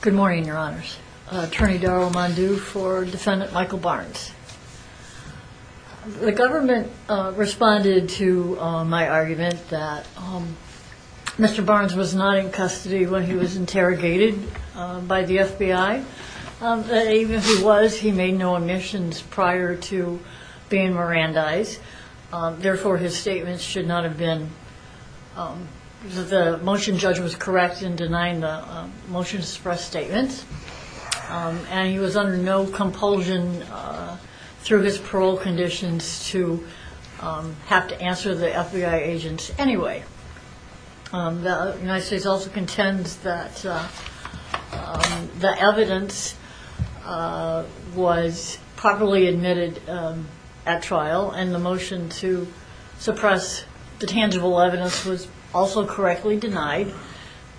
Good morning your honors. Attorney Daryl Mondew for defendant Michael Barnes. The government responded to my argument that Mr. Barnes was not in custody when he was interrogated by the FBI. Even if he was, he made no omissions prior to being Mirandized. Therefore his statements should not have been. The motion judge was correct in denying the motion to suppress statements and he was under no compulsion through his parole conditions to have to answer the FBI agents anyway. The United States also contends that the evidence was properly admitted at trial and the motion to suppress the tangible evidence was also correctly denied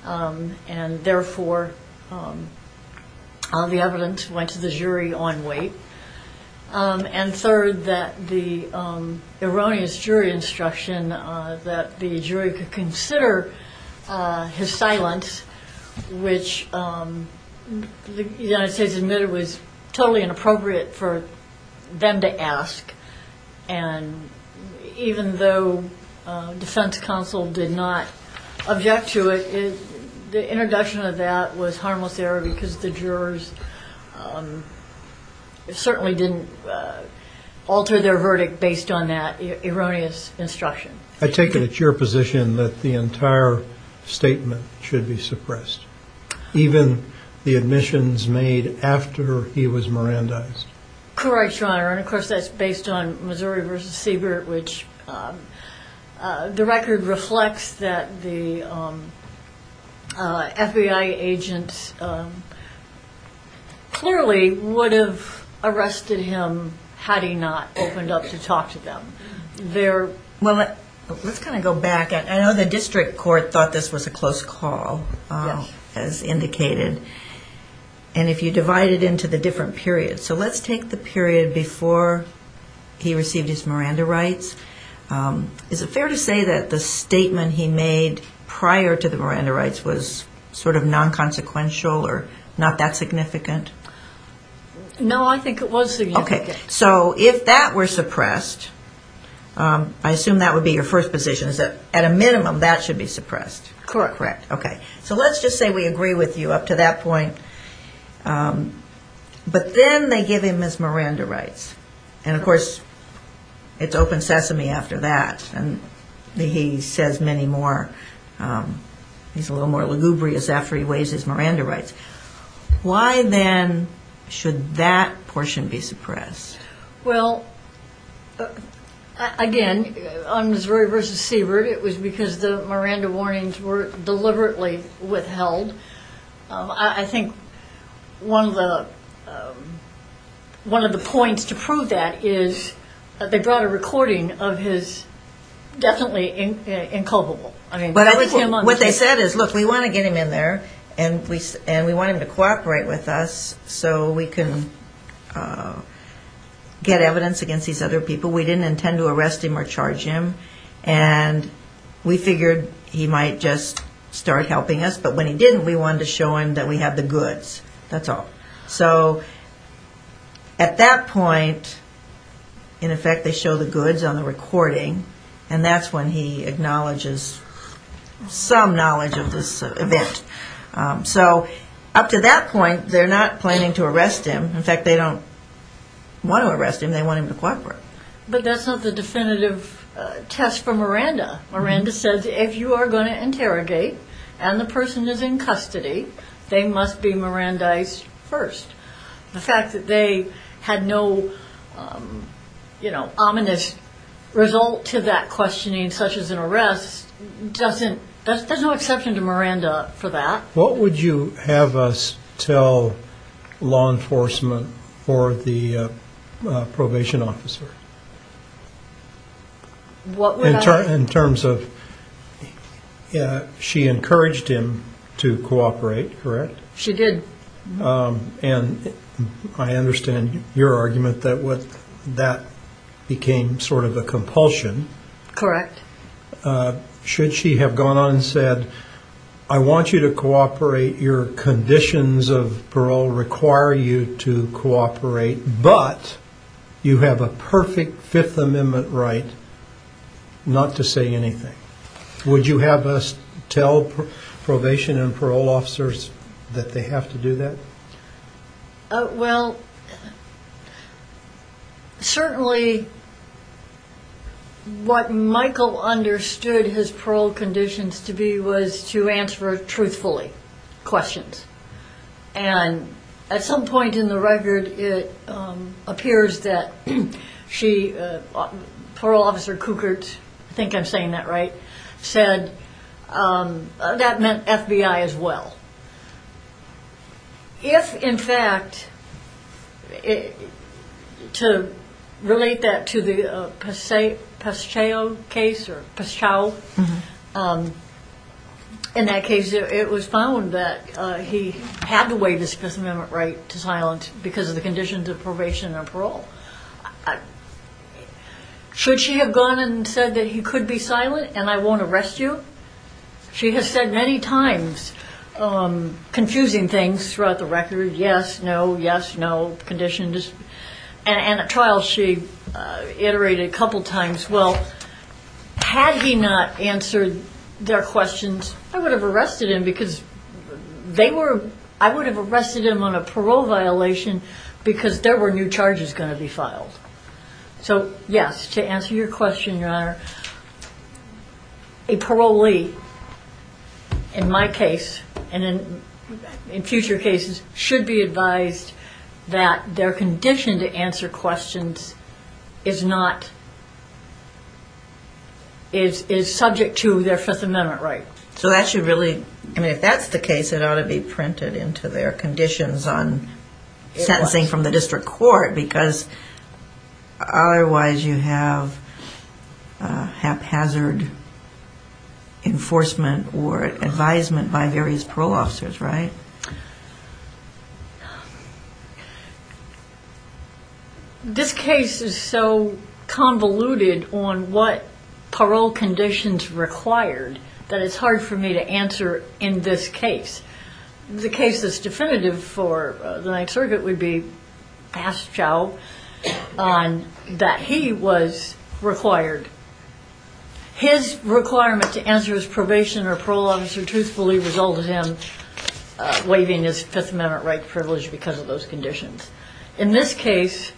and therefore the evidence went to the jury on weight. And third that the erroneous jury instruction that the jury could consider his silence which the United And even though defense counsel did not object to it, the introduction of that was harmless error because the jurors certainly didn't alter their verdict based on that erroneous instruction. I take it it's your position that the entire statement should be suppressed even the admissions made after he was Mirandized. Correct Your Honor and of course that's based on Missouri v. Siebert which the record reflects that the FBI agents clearly would have arrested him had he not opened up to talk to them. Well let's kind of go back. I know the district court thought this was a close call as indicated and if you divide it into the different periods. So let's take the period before he received his Miranda rights. Is it fair to say that the statement he made prior to the Miranda rights was sort of non-consequential or not that significant? No I think it was significant. So if that were suppressed, I assume that would be your first position is that at a minimum that should be suppressed. Correct. So let's just say we agree with you up to that point. But then they give him his Miranda rights and of course it's open sesame after that and he says many more. He's a little more lugubrious after he waives his Miranda rights. Why then should that portion be suppressed? Well again on Missouri v. Siebert it was because the Miranda warnings were deliberately withheld. I think one of the points to prove that is that they brought a recording of his definitely inculpable. What they said is look we want to get him in there and we want him to cooperate with us so we can get evidence against these other people. We didn't intend to arrest him or charge him and we figured he might just start helping us but when he didn't we wanted to show him that we have the goods. That's all. So at that point in effect they show the goods on the recording and that's when he acknowledges some knowledge of this event. So up to that point they're not planning to arrest him. In fact they don't want to arrest him. They want him to cooperate. But that's not the you are going to interrogate and the person is in custody they must be Mirandized first. The fact that they had no you know ominous result to that questioning such as an arrest doesn't there's no exception to Miranda for that. What would you have us tell law enforcement or the probation officer? In terms of yeah she encouraged him to cooperate correct? She did. And I understand your argument that what that became sort of a compulsion. Correct. Should she have gone on said I want you to cooperate your conditions of parole require you to cooperate but you have a perfect Fifth Amendment right not to say anything. Would you have us tell probation and parole officers that they have to do that? Well certainly what Michael understood his parole conditions to be was to answer truthfully questions and at some point in the record it appears that she parole officer Cukert I think I'm saying that right said that meant FBI as well. If in fact to relate that to the Pesceo case or Pesceo in that case it was found that he had to waive his Fifth Amendment right to silence because of the conditions of probation and parole. Should she have gone and said that he could be silent and I won't arrest you? She has said many times confusing things throughout the record yes no yes no I would have arrested him because they were I would have arrested him on a parole violation because there were new charges going to be filed. So yes to answer your question your honor a parolee in my case and in future cases should be advised that their condition to answer questions is not is subject to their Fifth Amendment right. So that should really I mean if that's the case it ought to be printed into their conditions on sentencing from the district court because otherwise you have haphazard enforcement or advisement by various parole officers right. This case is so convoluted on what parole conditions required that it's hard for me to answer in this case. The case that's definitive for the Ninth Circuit would be Pesceo on that he was required. His requirement to answer his probation or parole officer truthfully resulted in waiving his Fifth Amendment right privilege because of those conditions. In this case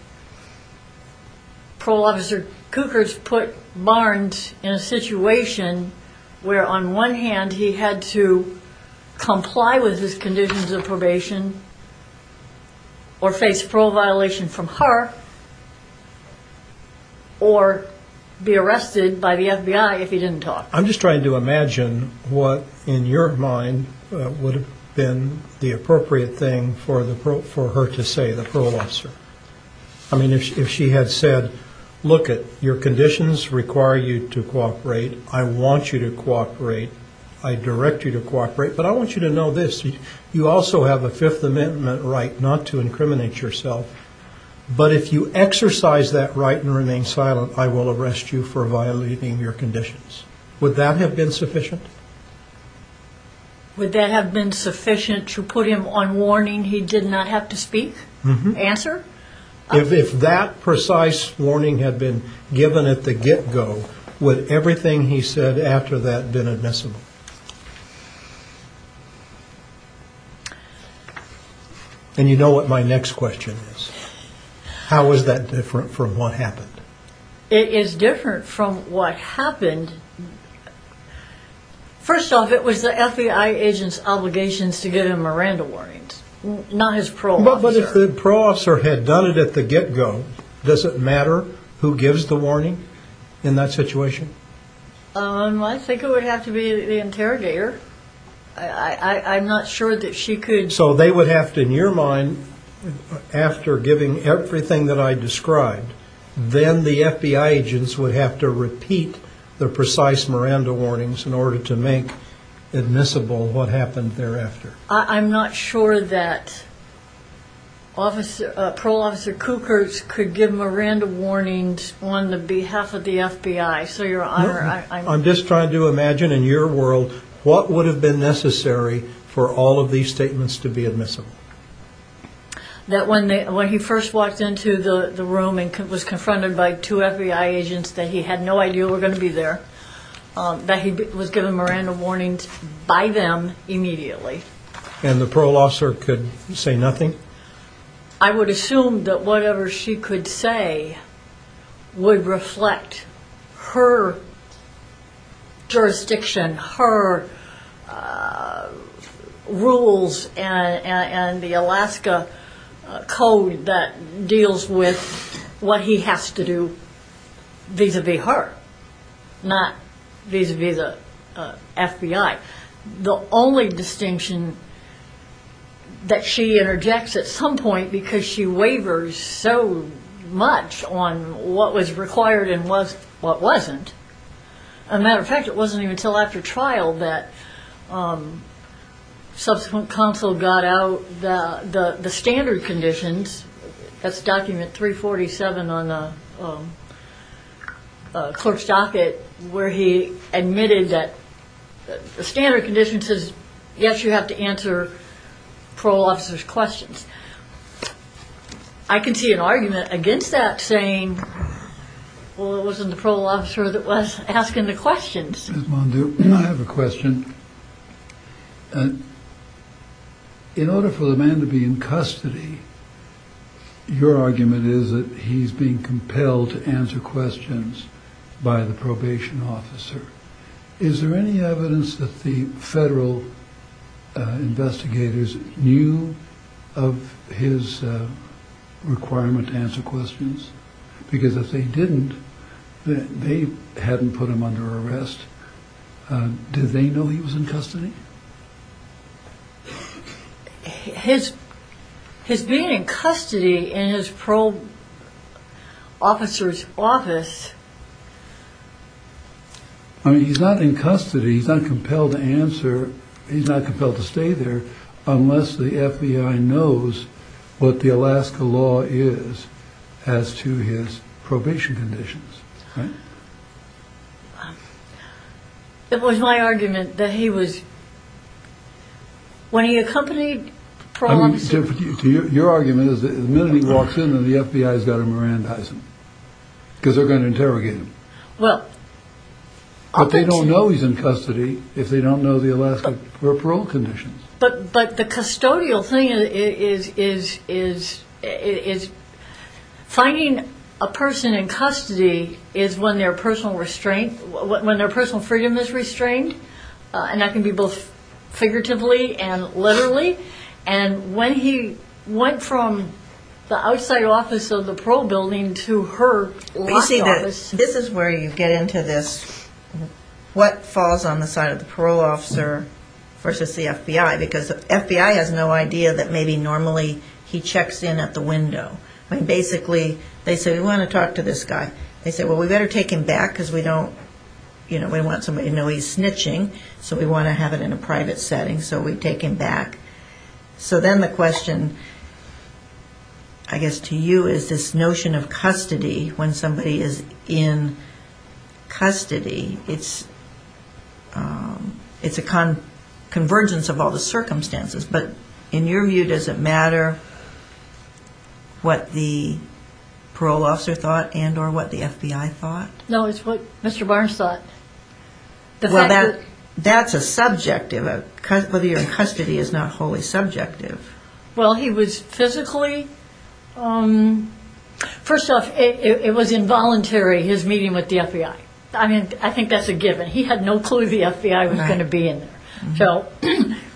parole officer Cukors put Barnes in a situation where on one hand he had to comply with his conditions of probation or face parole violation from I'm just trying to imagine what in your mind would have been the appropriate thing for the pro for her to say the parole officer. I mean if she had said look at your conditions require you to cooperate I want you to cooperate I direct you to cooperate but I want you to know this you also have a Fifth Amendment right not to incriminate yourself but if you exercise that right and remain silent I will arrest you for violating your conditions. Would that have been sufficient? Would that have been sufficient to put him on warning he did not have to speak? Answer? If that precise warning had been given at the get-go would everything he said after that been admissible? And you know what my next question is how is that different from what happened? It is different from what happened first off it was the FBI agents obligations to give him Miranda warnings not his parole officer. But if the parole officer had done it at the get-go does it matter who gives the warning in that situation? I think it would have to be the interrogator I'm not sure that she could. So they would have to in your mind after giving everything that I described then the FBI agents would have to repeat the precise Miranda warnings in order to make admissible what happened thereafter? I'm not sure that parole officer Cukors could give Miranda warnings on the behalf of the FBI. I'm just trying to imagine in your world what would have been necessary for all of these statements to be admissible? That when he first walked into the room and was confronted by two FBI agents that he had no idea were going to be there that he was given Miranda warnings by them immediately. And the parole officer could say nothing? I would assume that whatever she could say would reflect her jurisdiction, her rules and the Alaska code that deals with what he has to do vis-a-vis her not vis-a-vis the FBI. The only distinction that she interjects at some point because she wavers so much on what was required and what wasn't. As a result she doesn't even tell after trial that subsequent counsel got out the standard conditions. That's document 347 on the clerk's docket where he admitted that the standard condition says yes you have to answer parole officer's questions. I can see an argument against that saying well it wasn't the parole officer that was asking the questions. I have a question. In order for the man to be in custody your argument is that he's being compelled to answer questions by the probation officer. Is there any evidence that the federal investigators knew of his requirement to answer questions? Because if they didn't, they hadn't put him under arrest. Did they know he was in custody? His being in custody in his parole officer's office. I mean he's not in custody, he's not compelled to answer, he's not compelled to stay there unless the FBI knows what the Alaska law is as to his probation conditions. It was my argument that he was, when he accompanied parole officer. Your argument is that the minute he walks in then the FBI's got to Mirandize him because they're going to interrogate him. But they don't know he's in custody if they don't know the Alaska parole conditions. But the custodial thing is finding a person in custody is when their personal freedom is restrained and that can be both figuratively and literally and when he went from the outside office of the parole building to her law office. This is where you get into this what falls on the side of the parole officer versus the FBI because the FBI has no idea that maybe normally he checks in at the window. I mean basically they say we want to talk to this guy. They say well we better take him back because we don't you know we want somebody to know he's snitching so we want to have it in a private setting so we take him back. So then the question I guess to you is this notion of custody when somebody is in custody it's a convergence of all the circumstances but in your view does it matter what the parole officer thought and or what the FBI thought? No it's what Mr. Barnes thought. Well that's a subjective. Whether you're in custody is not wholly subjective. Well he was it was involuntary his meeting with the FBI. I mean I think that's a given. He had no clue the FBI was going to be in there. So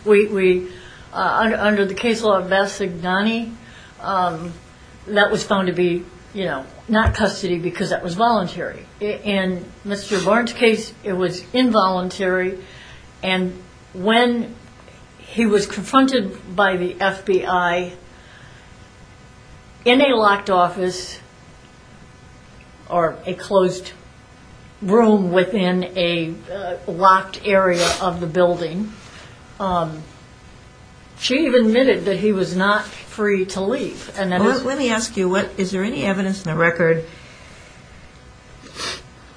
we under the case law of Bassigdani that was found to be you know not custody because that was voluntary. In Mr. Barnes case it was involuntary and when he was confronted by the FBI in a locked office or a closed room within a locked area of the building she admitted that he was not free to leave. Let me ask you what is there any evidence in the record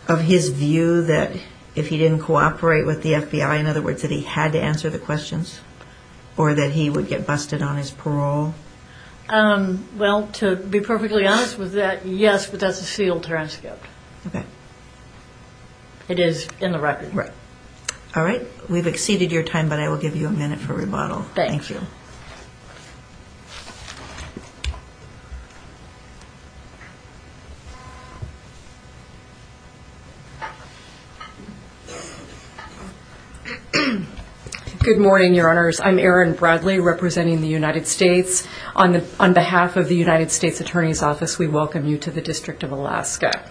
of his view that if he didn't cooperate with the FBI in other words that he had to answer the questions or that he would get busted on be perfectly honest with that yes but that's a sealed transcript okay it is in the record right all right we've exceeded your time but I will give you a minute for rebuttal thank you good morning your honors I'm Erin Bradley representing the United States on the on behalf of the United States Attorney's Office we welcome you to the District of Alaska.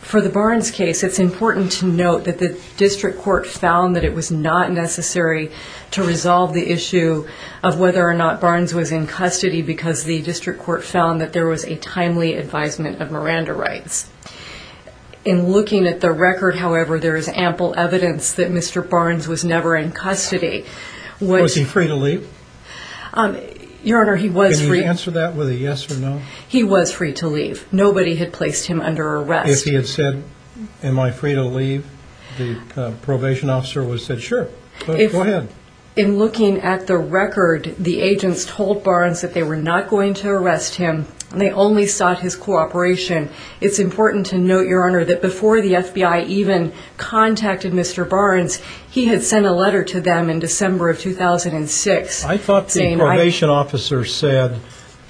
For the Barnes case it's important to note that the district court found that it was not necessary to resolve the issue of whether or not Barnes was in custody because the district court found that there was a timely advisement of Miranda rights. In looking at the record however there is evidence that Mr. Barnes was never in custody. Was he free to leave? Your honor he was free. Can you answer that with a yes or no? He was free to leave nobody had placed him under arrest. If he had said am I free to leave the probation officer would have said sure. In looking at the record the agents told Barnes that they were not going to arrest him they only sought his cooperation it's important to the FBI even contacted Mr. Barnes he had sent a letter to them in December of 2006. I thought the probation officer said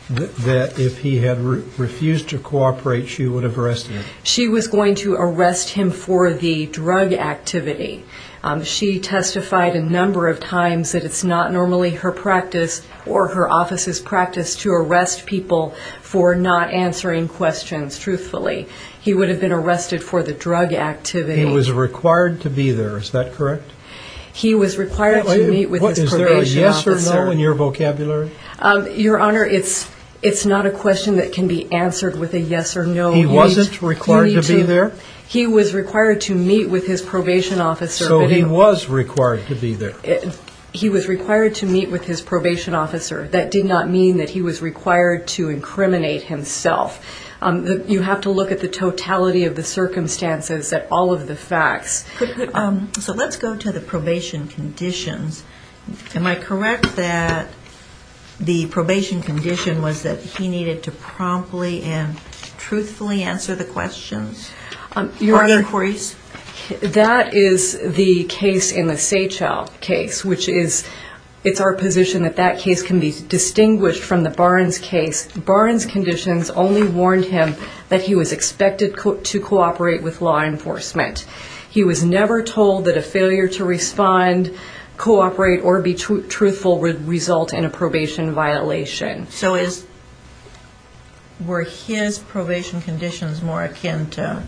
that if he had refused to cooperate she would have arrested him. She was going to arrest him for the drug activity she testified a number of times that it's not normally her practice or her office's practice to arrest people for not answering questions truthfully he would have been arrested for the drug activity. He was required to be there is that correct? He was required to meet with his probation officer. Is there a yes or no in your vocabulary? Your honor it's it's not a question that can be answered with a yes or no. He wasn't required to be there? He was required to meet with his probation officer. So he was required to be there? He was required to meet with his probation officer that did not mean that he was of the circumstances that all of the facts. So let's go to the probation conditions. Am I correct that the probation condition was that he needed to promptly and truthfully answer the questions? Your honor that is the case in the Seychelles case which is it's our position that that case can be distinguished from the Barnes case. Barnes conditions only warned him that he was expected to cooperate with law enforcement. He was never told that a failure to respond, cooperate, or be truthful would result in a probation violation. So were his probation conditions more akin to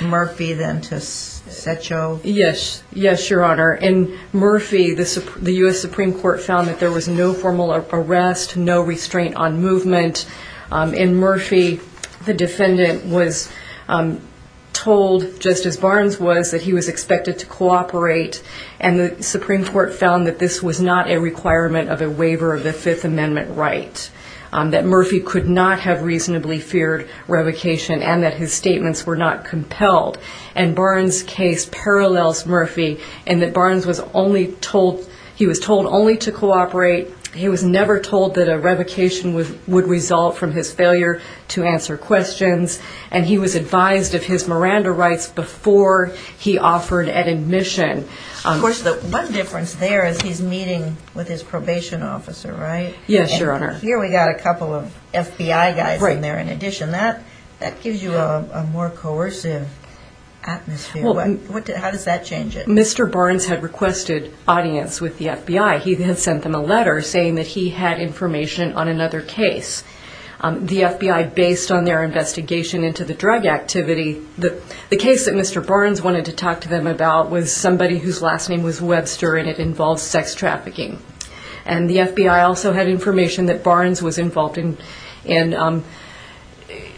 Murphy than to Sechelles? Yes, yes your honor. In Murphy the US Supreme Court found that there was told just as Barnes was that he was expected to cooperate and the Supreme Court found that this was not a requirement of a waiver of the Fifth Amendment right. That Murphy could not have reasonably feared revocation and that his statements were not compelled and Barnes case parallels Murphy and that Barnes was only told he was told only to cooperate. He was never told that he was advised of his Miranda rights before he offered an admission. Of course the one difference there is he's meeting with his probation officer right? Yes your honor. Here we got a couple of FBI guys right there in addition that that gives you a more coercive atmosphere. How does that change it? Mr. Barnes had requested audience with the FBI. He then sent them a letter saying that he had information on another case. The FBI based on their investigation into the drug activity that the case that Mr. Barnes wanted to talk to them about was somebody whose last name was Webster and it involves sex trafficking. And the FBI also had information that Barnes was involved in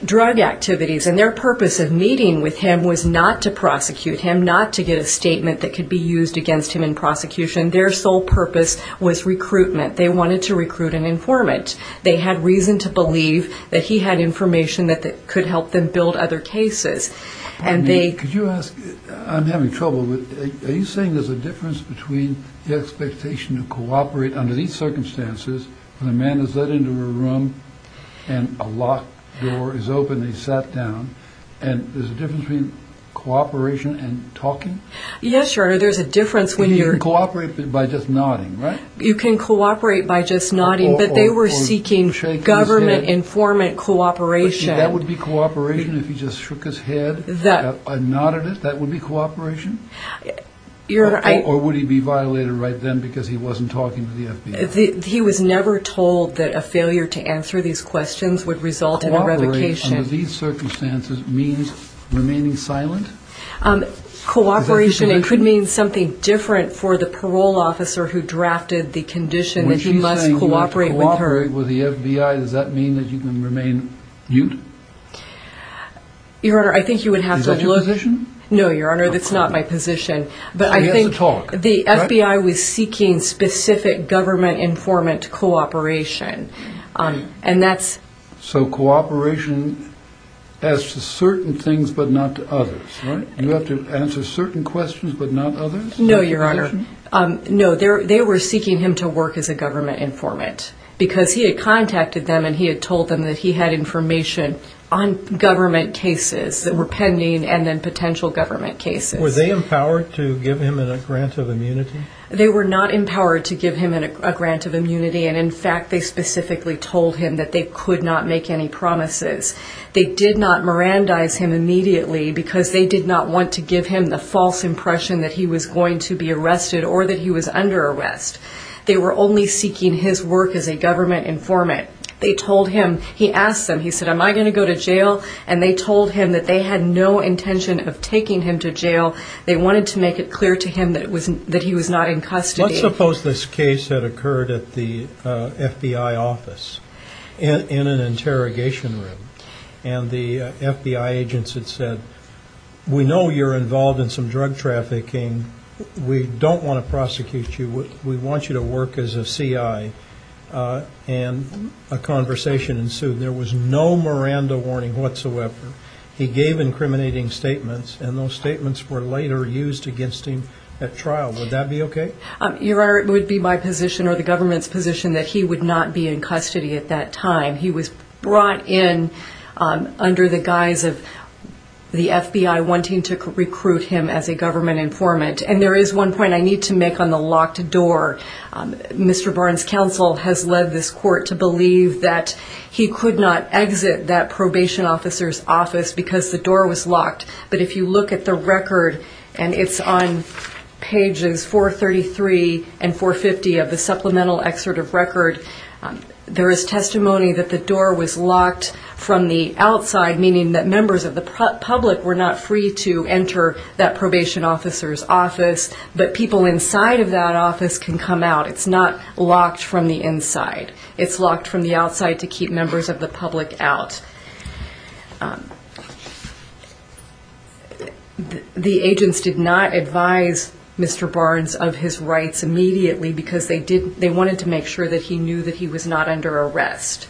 drug activities and their purpose of meeting with him was not to prosecute him, not to get a statement that could be used against him in prosecution. Their sole purpose was recruitment. They wanted to recruit an informant. They had reason to believe that he had information that could help them build other cases. I'm having trouble with, are you saying there's a difference between the expectation to cooperate under these circumstances when a man is let into a room and a locked door is open and he's sat down and there's a difference between cooperation and talking? Yes your honor there's a difference. You can cooperate by just nodding, right? You can cooperate by just nodding, but they were seeking government informant cooperation. That would be cooperation if he just shook his head and nodded it? That would be cooperation? Or would he be violated right then because he wasn't talking to the FBI? He was never told that a failure to answer these questions would result in a revocation. Cooperate under these circumstances means remaining silent? Cooperation it could mean something different for the parole officer or for the FBI to be able to talk to the FBI. When she's saying cooperate with the FBI does that mean that you can remain mute? Is that your position? No your honor that's not my position. But I think the FBI was seeking specific government informant cooperation. So cooperation as to certain things but not to others? You have to answer certain questions but not others? No your honor. No they were seeking him to work as a government informant because he had contacted them and he had told them that he had information on government cases that were pending and then potential government cases. Were they empowered to give him a grant of immunity? They were not empowered to give him a grant of immunity and in fact they specifically told him that they could not make any promises. They did not mirandize him immediately because they did not want to give him the false impression that he was going to be arrested or that he was under arrest. They were only seeking his work as a government informant. They told him, he asked them, he said am I going to go to jail? And they told him that they had no intention of taking him to jail. They wanted to make it clear to him that he was not in custody. Let's suppose this case had occurred at the FBI office in an interrogation room and the FBI agents had said we know you're involved in some drug trafficking. We don't want to prosecute you. We want you to work as a CI. And a conversation ensued. There was no Miranda warning whatsoever. He gave incriminating statements and those statements were later used against him at trial. Would that be okay? Your Honor, it would be my position or the government's position that he would not be in custody at that time. He was brought in under the guise of the FBI wanting to recruit him as a government informant. And there is one point I need to make on the locked door. Mr. Barnes' counsel has led this court to believe that he could not exit that probation officer's office because the door was locked. But if you look at the record, and it's on pages 433 and 450 of the supplemental excerpt of record, there is testimony that the door was locked from the outside, meaning that members of the public were not free to enter that probation officer's office. But people inside of that office can come out. It's not locked from the inside. It's locked from the outside to keep members of the public out. The agents did not advise Mr. Barnes of his rights immediately because they wanted to make sure that he knew that he was not under arrest.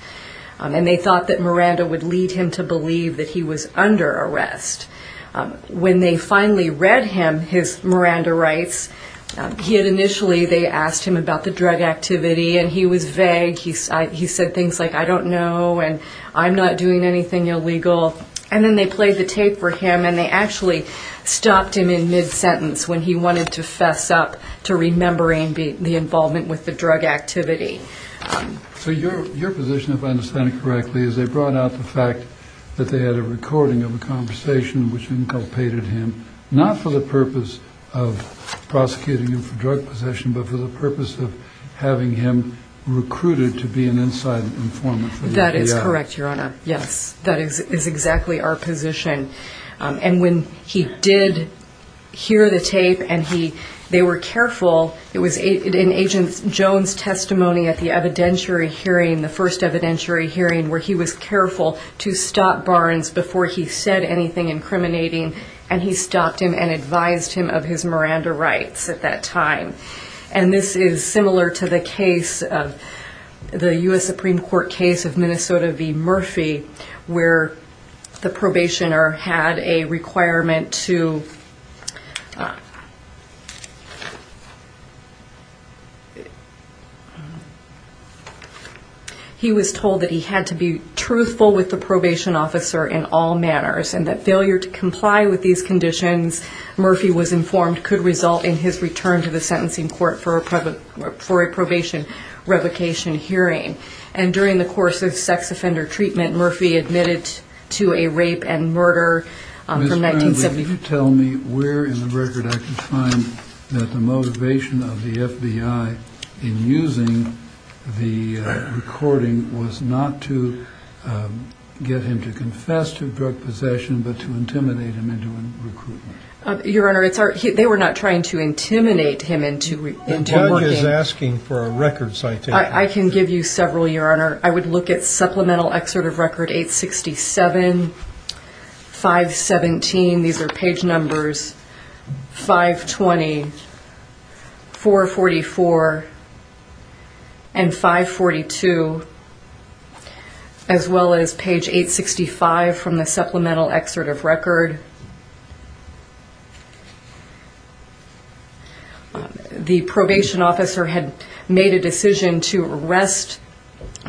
And they thought that Miranda would lead him to believe that he was under arrest. When they finally read him his Miranda rights, he had initially, they asked him about the drug activity, and he was vague. He said things like, I don't know, and I'm not doing anything illegal. And then they played the tape for him, and they actually stopped him in mid-sentence when he wanted to fess up to remembering the involvement with the drug activity. So your position, if I understand it correctly, is they brought out the fact that they had a recording of a conversation which inculpated him, not for the purpose of prosecuting him for drug possession, but for the purpose of having him recruited to be an inside informant. That is correct, Your Honor. Yes. That is exactly our position. And when he did hear the tape and they were careful, it was in Agent Jones' testimony at the evidentiary hearing, the first evidentiary hearing, where he was careful to stop Barnes before he said anything incriminating. And he stopped him and advised him of his Miranda rights at that time. And this is similar to the case, the U.S. Supreme Court case of Minnesota v. Murphy, where the probationer had a requirement to, he was told that he had to be truthful with the probation officer in all manners, and that failure to comply with these conditions, Murphy was informed, could result in his return to the sentencing. And during the course of sex offender treatment, Murphy admitted to a rape and murder from 1970- Ms. Barnes, will you tell me where in the record I can find that the motivation of the FBI in using the recording was not to get him to confess to drug possession, but to intimidate him into a recruitment? Your Honor, they were not trying to intimidate him into working- But Barnes is asking for a record citation. I can give you several, Your Honor. I would look at Supplemental Excerpt of Record 867, 517, these are page numbers, 520, 444, and 542, as well as page 865 from the Supplemental Excerpt of Record. The probation officer had made a decision to arrest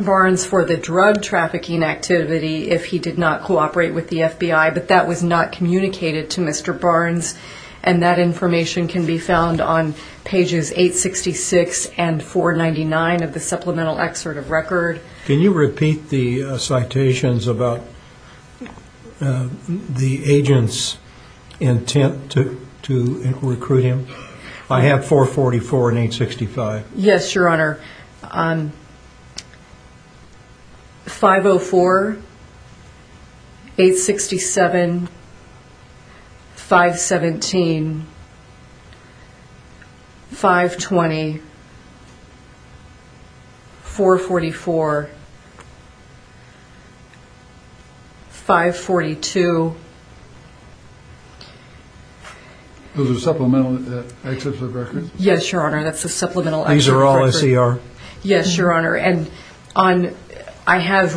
Barnes for the drug trafficking activity if he did not cooperate with the FBI, but that was not communicated to Mr. Barnes, and that information can be found on pages 866 and 499 of the Supplemental Excerpt of Record. Can you repeat the citations about the agent's intent to recruit him? I have 444 and 865. Yes, Your Honor. 504, 867, 517, 520, 444, 542- Those are Supplemental Excerpts of Record? Yes, Your Honor, that's the Supplemental Excerpt of Record. These are all S.E.R.? Yes, Your Honor, and I have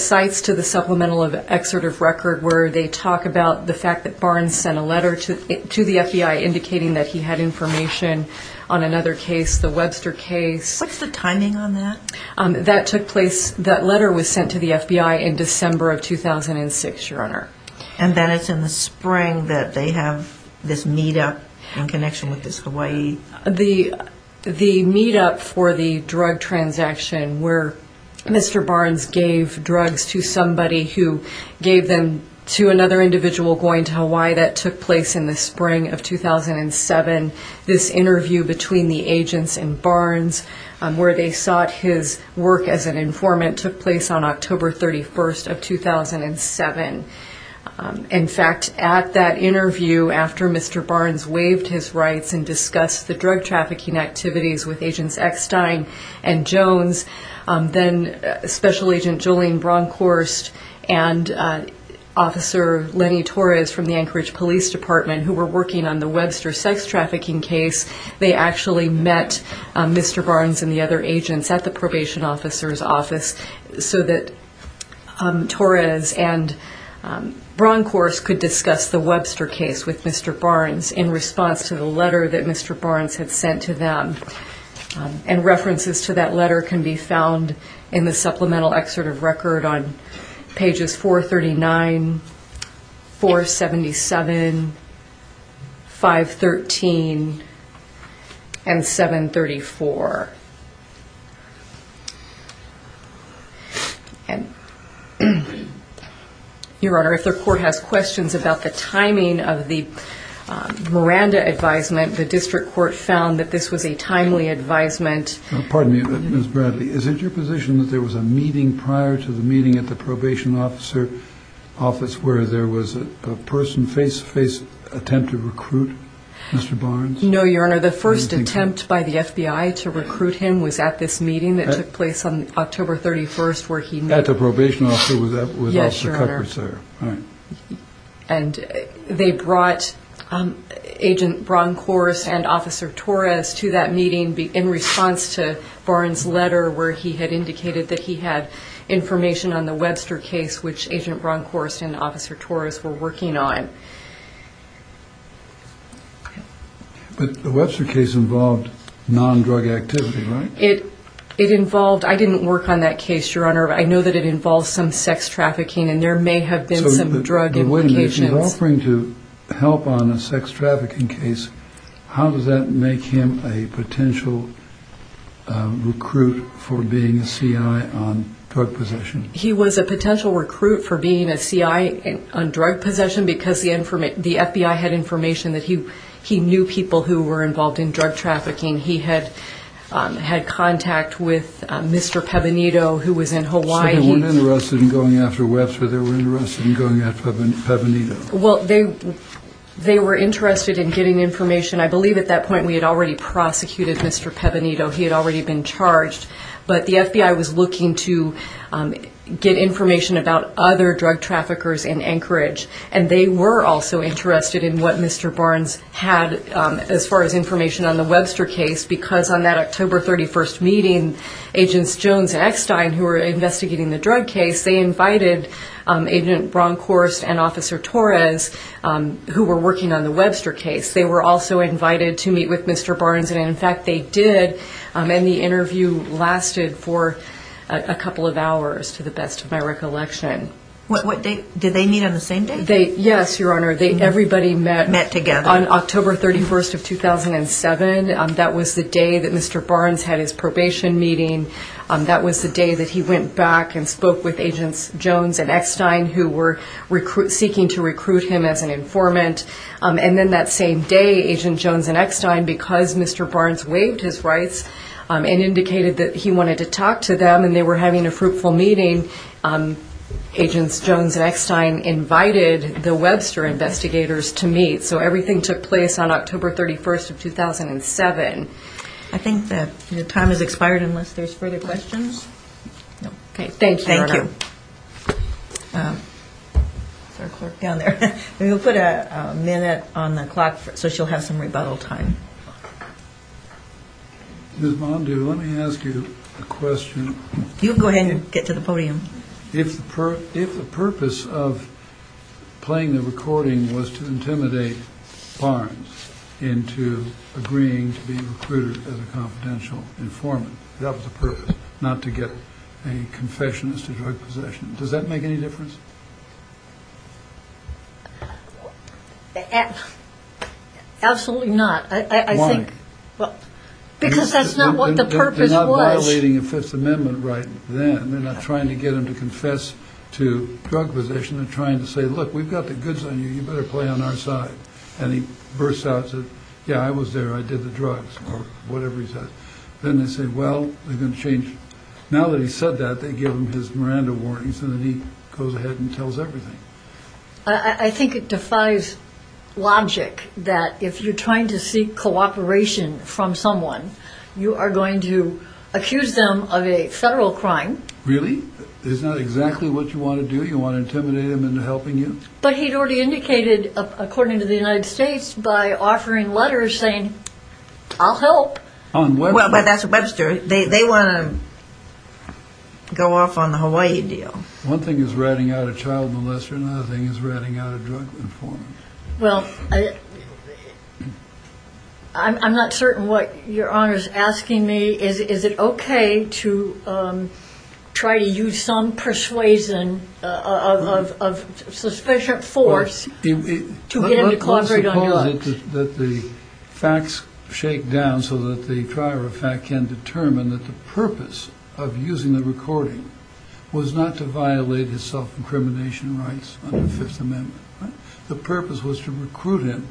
sites to the Supplemental Excerpt of Record where they talk about the fact that Barnes sent a letter to the FBI indicating that he had information on another case, the Webster case. What's the timing on that? That took place, that letter was sent to the FBI in December of 2006, Your Honor. And then it's in the spring that they have this meet-up in connection with this Hawaii- In fact, at that interview, after Mr. Barnes waived his rights and discussed the drug trafficking activities with Agents Eckstein and Jones, then Special Agent Jolene Bronkhorst and Officer Lenny Torres from the Anchorage Police Department, who were working on the Webster sex trafficking case, they actually met Mr. Barnes and the other agents at the probation officer's office so that Torres and Bronkhorst could discuss the Webster case with Mr. Barnes in response to the letter that Mr. Barnes had sent to them. And references to that letter can be found in the Supplemental Excerpt of Record on pages 439, 477, 513, and 734. Your Honor, if the Court has questions about the timing of the Miranda advisement, the District Court found that this was a timely advisement. Pardon me, Ms. Bradley, is it your position that there was a meeting prior to the meeting at the probation officer's office where there was a person face-to-face attempt to recruit Mr. Barnes? No, Your Honor, the first attempt by the FBI to recruit him was at this meeting that took place on October 31st where he met... At the probation officer's office? Yes, Your Honor. All right. And they brought Agent Bronkhorst and Officer Torres to that meeting in response to Barnes' letter where he had indicated that he had information on the Webster case, which Agent Bronkhorst and Officer Torres were working on. But the Webster case involved non-drug activity, right? It involved... I didn't work on that case, Your Honor. I know that it involved some sex trafficking and there may have been some drug implications. Wait a minute. If you're offering to help on a sex trafficking case, how does that make him a potential recruit for being a C.I. on drug possession? He was a potential recruit for being a C.I. on drug possession because the FBI had information that he knew people who were involved in drug trafficking. He had contact with Mr. Pebinito who was in Hawaii. So they weren't interested in going after Webster. They were interested in going after Pebinito. Well, they were interested in getting information. I believe at that point we had already prosecuted Mr. Pebinito. He had already been charged. But the FBI was looking to get information about other drug traffickers in Anchorage, and they were also interested in what Mr. Barnes had as far as information on the Webster case because on that October 31st meeting, Agents Jones and Eckstein, who were investigating the drug case, they invited Agent Bronkhorst and Officer Torres who were working on the Webster case. They were also invited to meet with Mr. Barnes, and in fact they did. And the interview lasted for a couple of hours to the best of my recollection. Did they meet on the same day? Yes, Your Honor. Everybody met on October 31st of 2007. That was the day that Mr. Barnes had his probation meeting. That was the day that he went back and spoke with Agents Jones and Eckstein who were seeking to recruit him as an informant. And then that same day, Agents Jones and Eckstein, because Mr. Barnes waived his rights and indicated that he wanted to talk to them and they were having a fruitful meeting, Agents Jones and Eckstein invited the Webster investigators to meet. So everything took place on October 31st of 2007. I think the time has expired unless there's further questions. No. Okay. Thank you, Your Honor. Thank you. Is there a clerk down there? We'll put a minute on the clock so she'll have some rebuttal time. Ms. Bondu, let me ask you a question. You can go ahead and get to the podium. If the purpose of playing the recording was to intimidate Barnes into agreeing to be recruited as a confidential informant, that was the purpose, not to get a confession as to drug possession. Does that make any difference? Absolutely not. Why? Because that's not what the purpose was. They're not violating a Fifth Amendment right then. They're not trying to get him to confess to drug possession. They're trying to say, look, we've got the goods on you. You better play on our side. And he bursts out and says, yeah, I was there. I did the drugs or whatever he says. Then they say, well, they're going to change. Now that he's said that, they give him his Miranda warnings and then he goes ahead and tells everything. I think it defies logic that if you're trying to seek cooperation from someone, you are going to accuse them of a federal crime. Really? It's not exactly what you want to do? You want to intimidate them into helping you? But he'd already indicated, according to the United States, by offering letters saying, I'll help. Well, that's Webster. They want to go off on the Hawaii deal. One thing is ratting out a child molester. Another thing is ratting out a drug informant. Well, I'm not certain what Your Honor is asking me. Is it okay to try to use some persuasion of sufficient force to get him to cooperate on drugs? That the facts shake down so that the driver of fact can determine that the purpose of using the recording was not to violate his self-incrimination rights under the Fifth Amendment. The purpose was to recruit him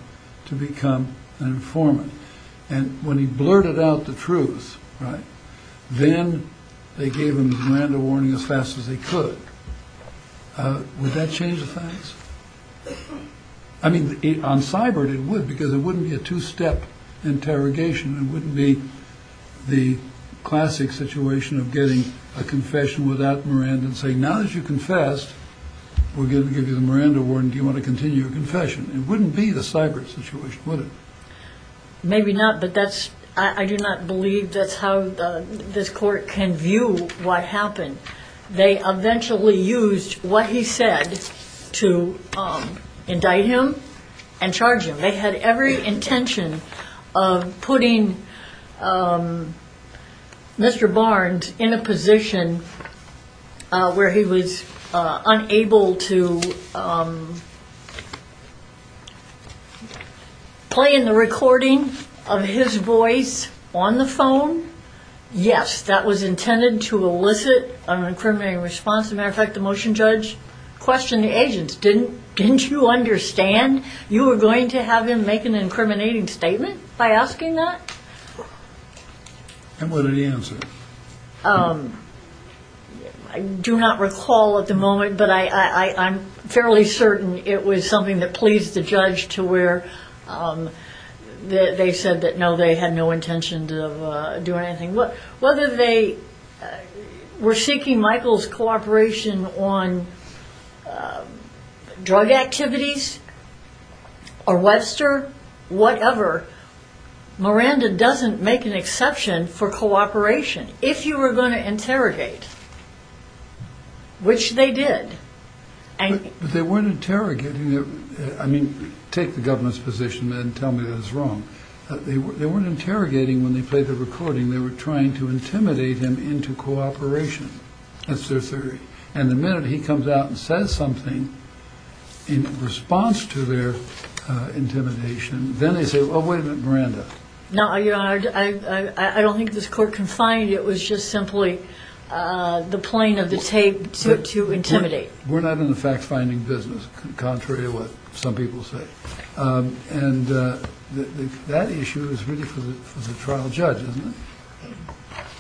to become an informant. And when he blurted out the truth, then they gave him the Miranda warning as fast as they could. Would that change the facts? I mean, on Cybert, it would, because it wouldn't be a two-step interrogation. It wouldn't be the classic situation of getting a confession without Miranda and saying, now that you confessed, we're going to give you the Miranda warning. Do you want to continue your confession? It wouldn't be the Cybert situation, would it? Maybe not, but I do not believe that's how this court can view what happened. They eventually used what he said to indict him and charge him. They had every intention of putting Mr. Barnes in a position where he was unable to play in the recording of his voice on the phone. Yes, that was intended to elicit an incriminating response. As a matter of fact, the motion judge questioned the agents. Didn't you understand you were going to have him make an incriminating statement by asking that? And what did he answer? I do not recall at the moment, but I'm fairly certain it was something that pleased the judge to where they said that no, they had no intention of doing anything. Whether they were seeking Michael's cooperation on drug activities or Webster, whatever, Miranda doesn't make an exception for cooperation. If you were going to interrogate, which they did. But they weren't interrogating. I mean, take the government's position and tell me that it's wrong. They weren't interrogating when they played the recording. They were trying to intimidate him into cooperation. That's their theory. And the minute he comes out and says something in response to their intimidation, then they say, oh, wait a minute, Miranda. No, I don't think this court can find it was just simply the plane of the tape to intimidate. We're not in the fact finding business. Contrary to what some people say. And that issue is really for the trial judge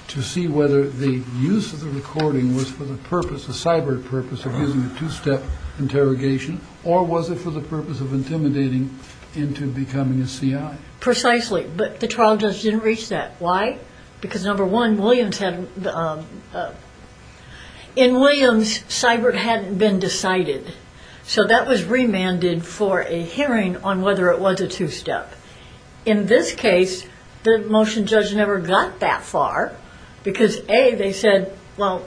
to see whether the use of the recording was for the purpose of cyber purpose of using a two step interrogation. Or was it for the purpose of intimidating into becoming a CIA? Precisely. But the trial judge didn't reach that. Why? Because number one, Williams had. In Williams, cyber hadn't been decided. So that was remanded for a hearing on whether it was a two step. In this case, the motion judge never got that far because they said, well,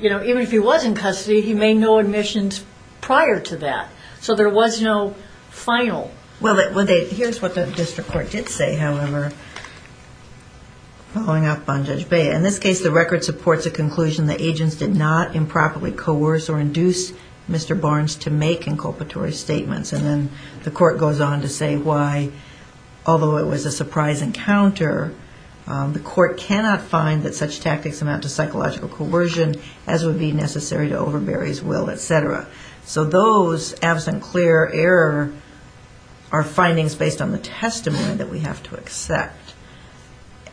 you know, even if he was in custody, he made no admissions prior to that. So there was no final. Well, here's what the district court did say, however. Following up on Judge Bay. In this case, the record supports a conclusion that agents did not improperly coerce or induce Mr. Barnes to make inculpatory statements. And then the court goes on to say why, although it was a surprise encounter, the court cannot find that such tactics amount to psychological coercion, as would be necessary to overbury his will, et cetera. So those absent clear error are findings based on the testimony that we have to accept.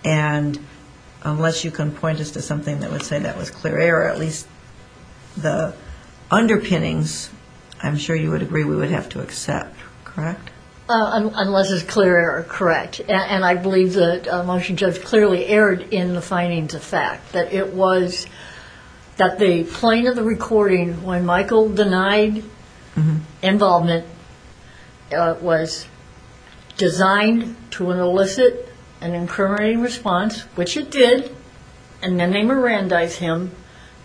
And unless you can point us to something that would say that was clear error, at least the underpinnings, I'm sure you would agree we would have to accept. Correct? Unless it's clear error. Correct. And I believe the motion judge clearly erred in the findings of fact, that it was that the plane of the recording when Michael denied involvement was designed to elicit an incriminating response, which it did. And then they Mirandized him.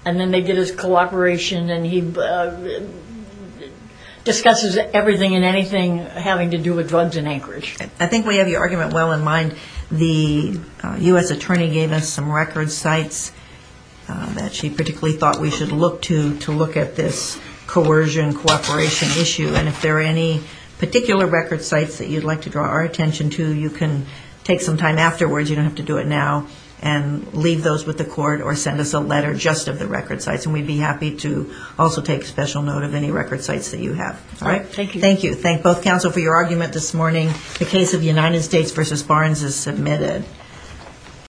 And then they did his cooperation. And he discusses everything and anything having to do with drugs in Anchorage. I think we have your argument well in mind. The U.S. attorney gave us some record sites that she particularly thought we should look to to look at this coercion cooperation issue. And if there are any particular record sites that you'd like to draw our attention to, you can take some time afterwards. You don't have to do it now. And leave those with the court or send us a letter just of the record sites. And we'd be happy to also take special note of any record sites that you have. All right. Thank you. Thank both counsel for your argument this morning. The case of United States v. Barnes is submitted.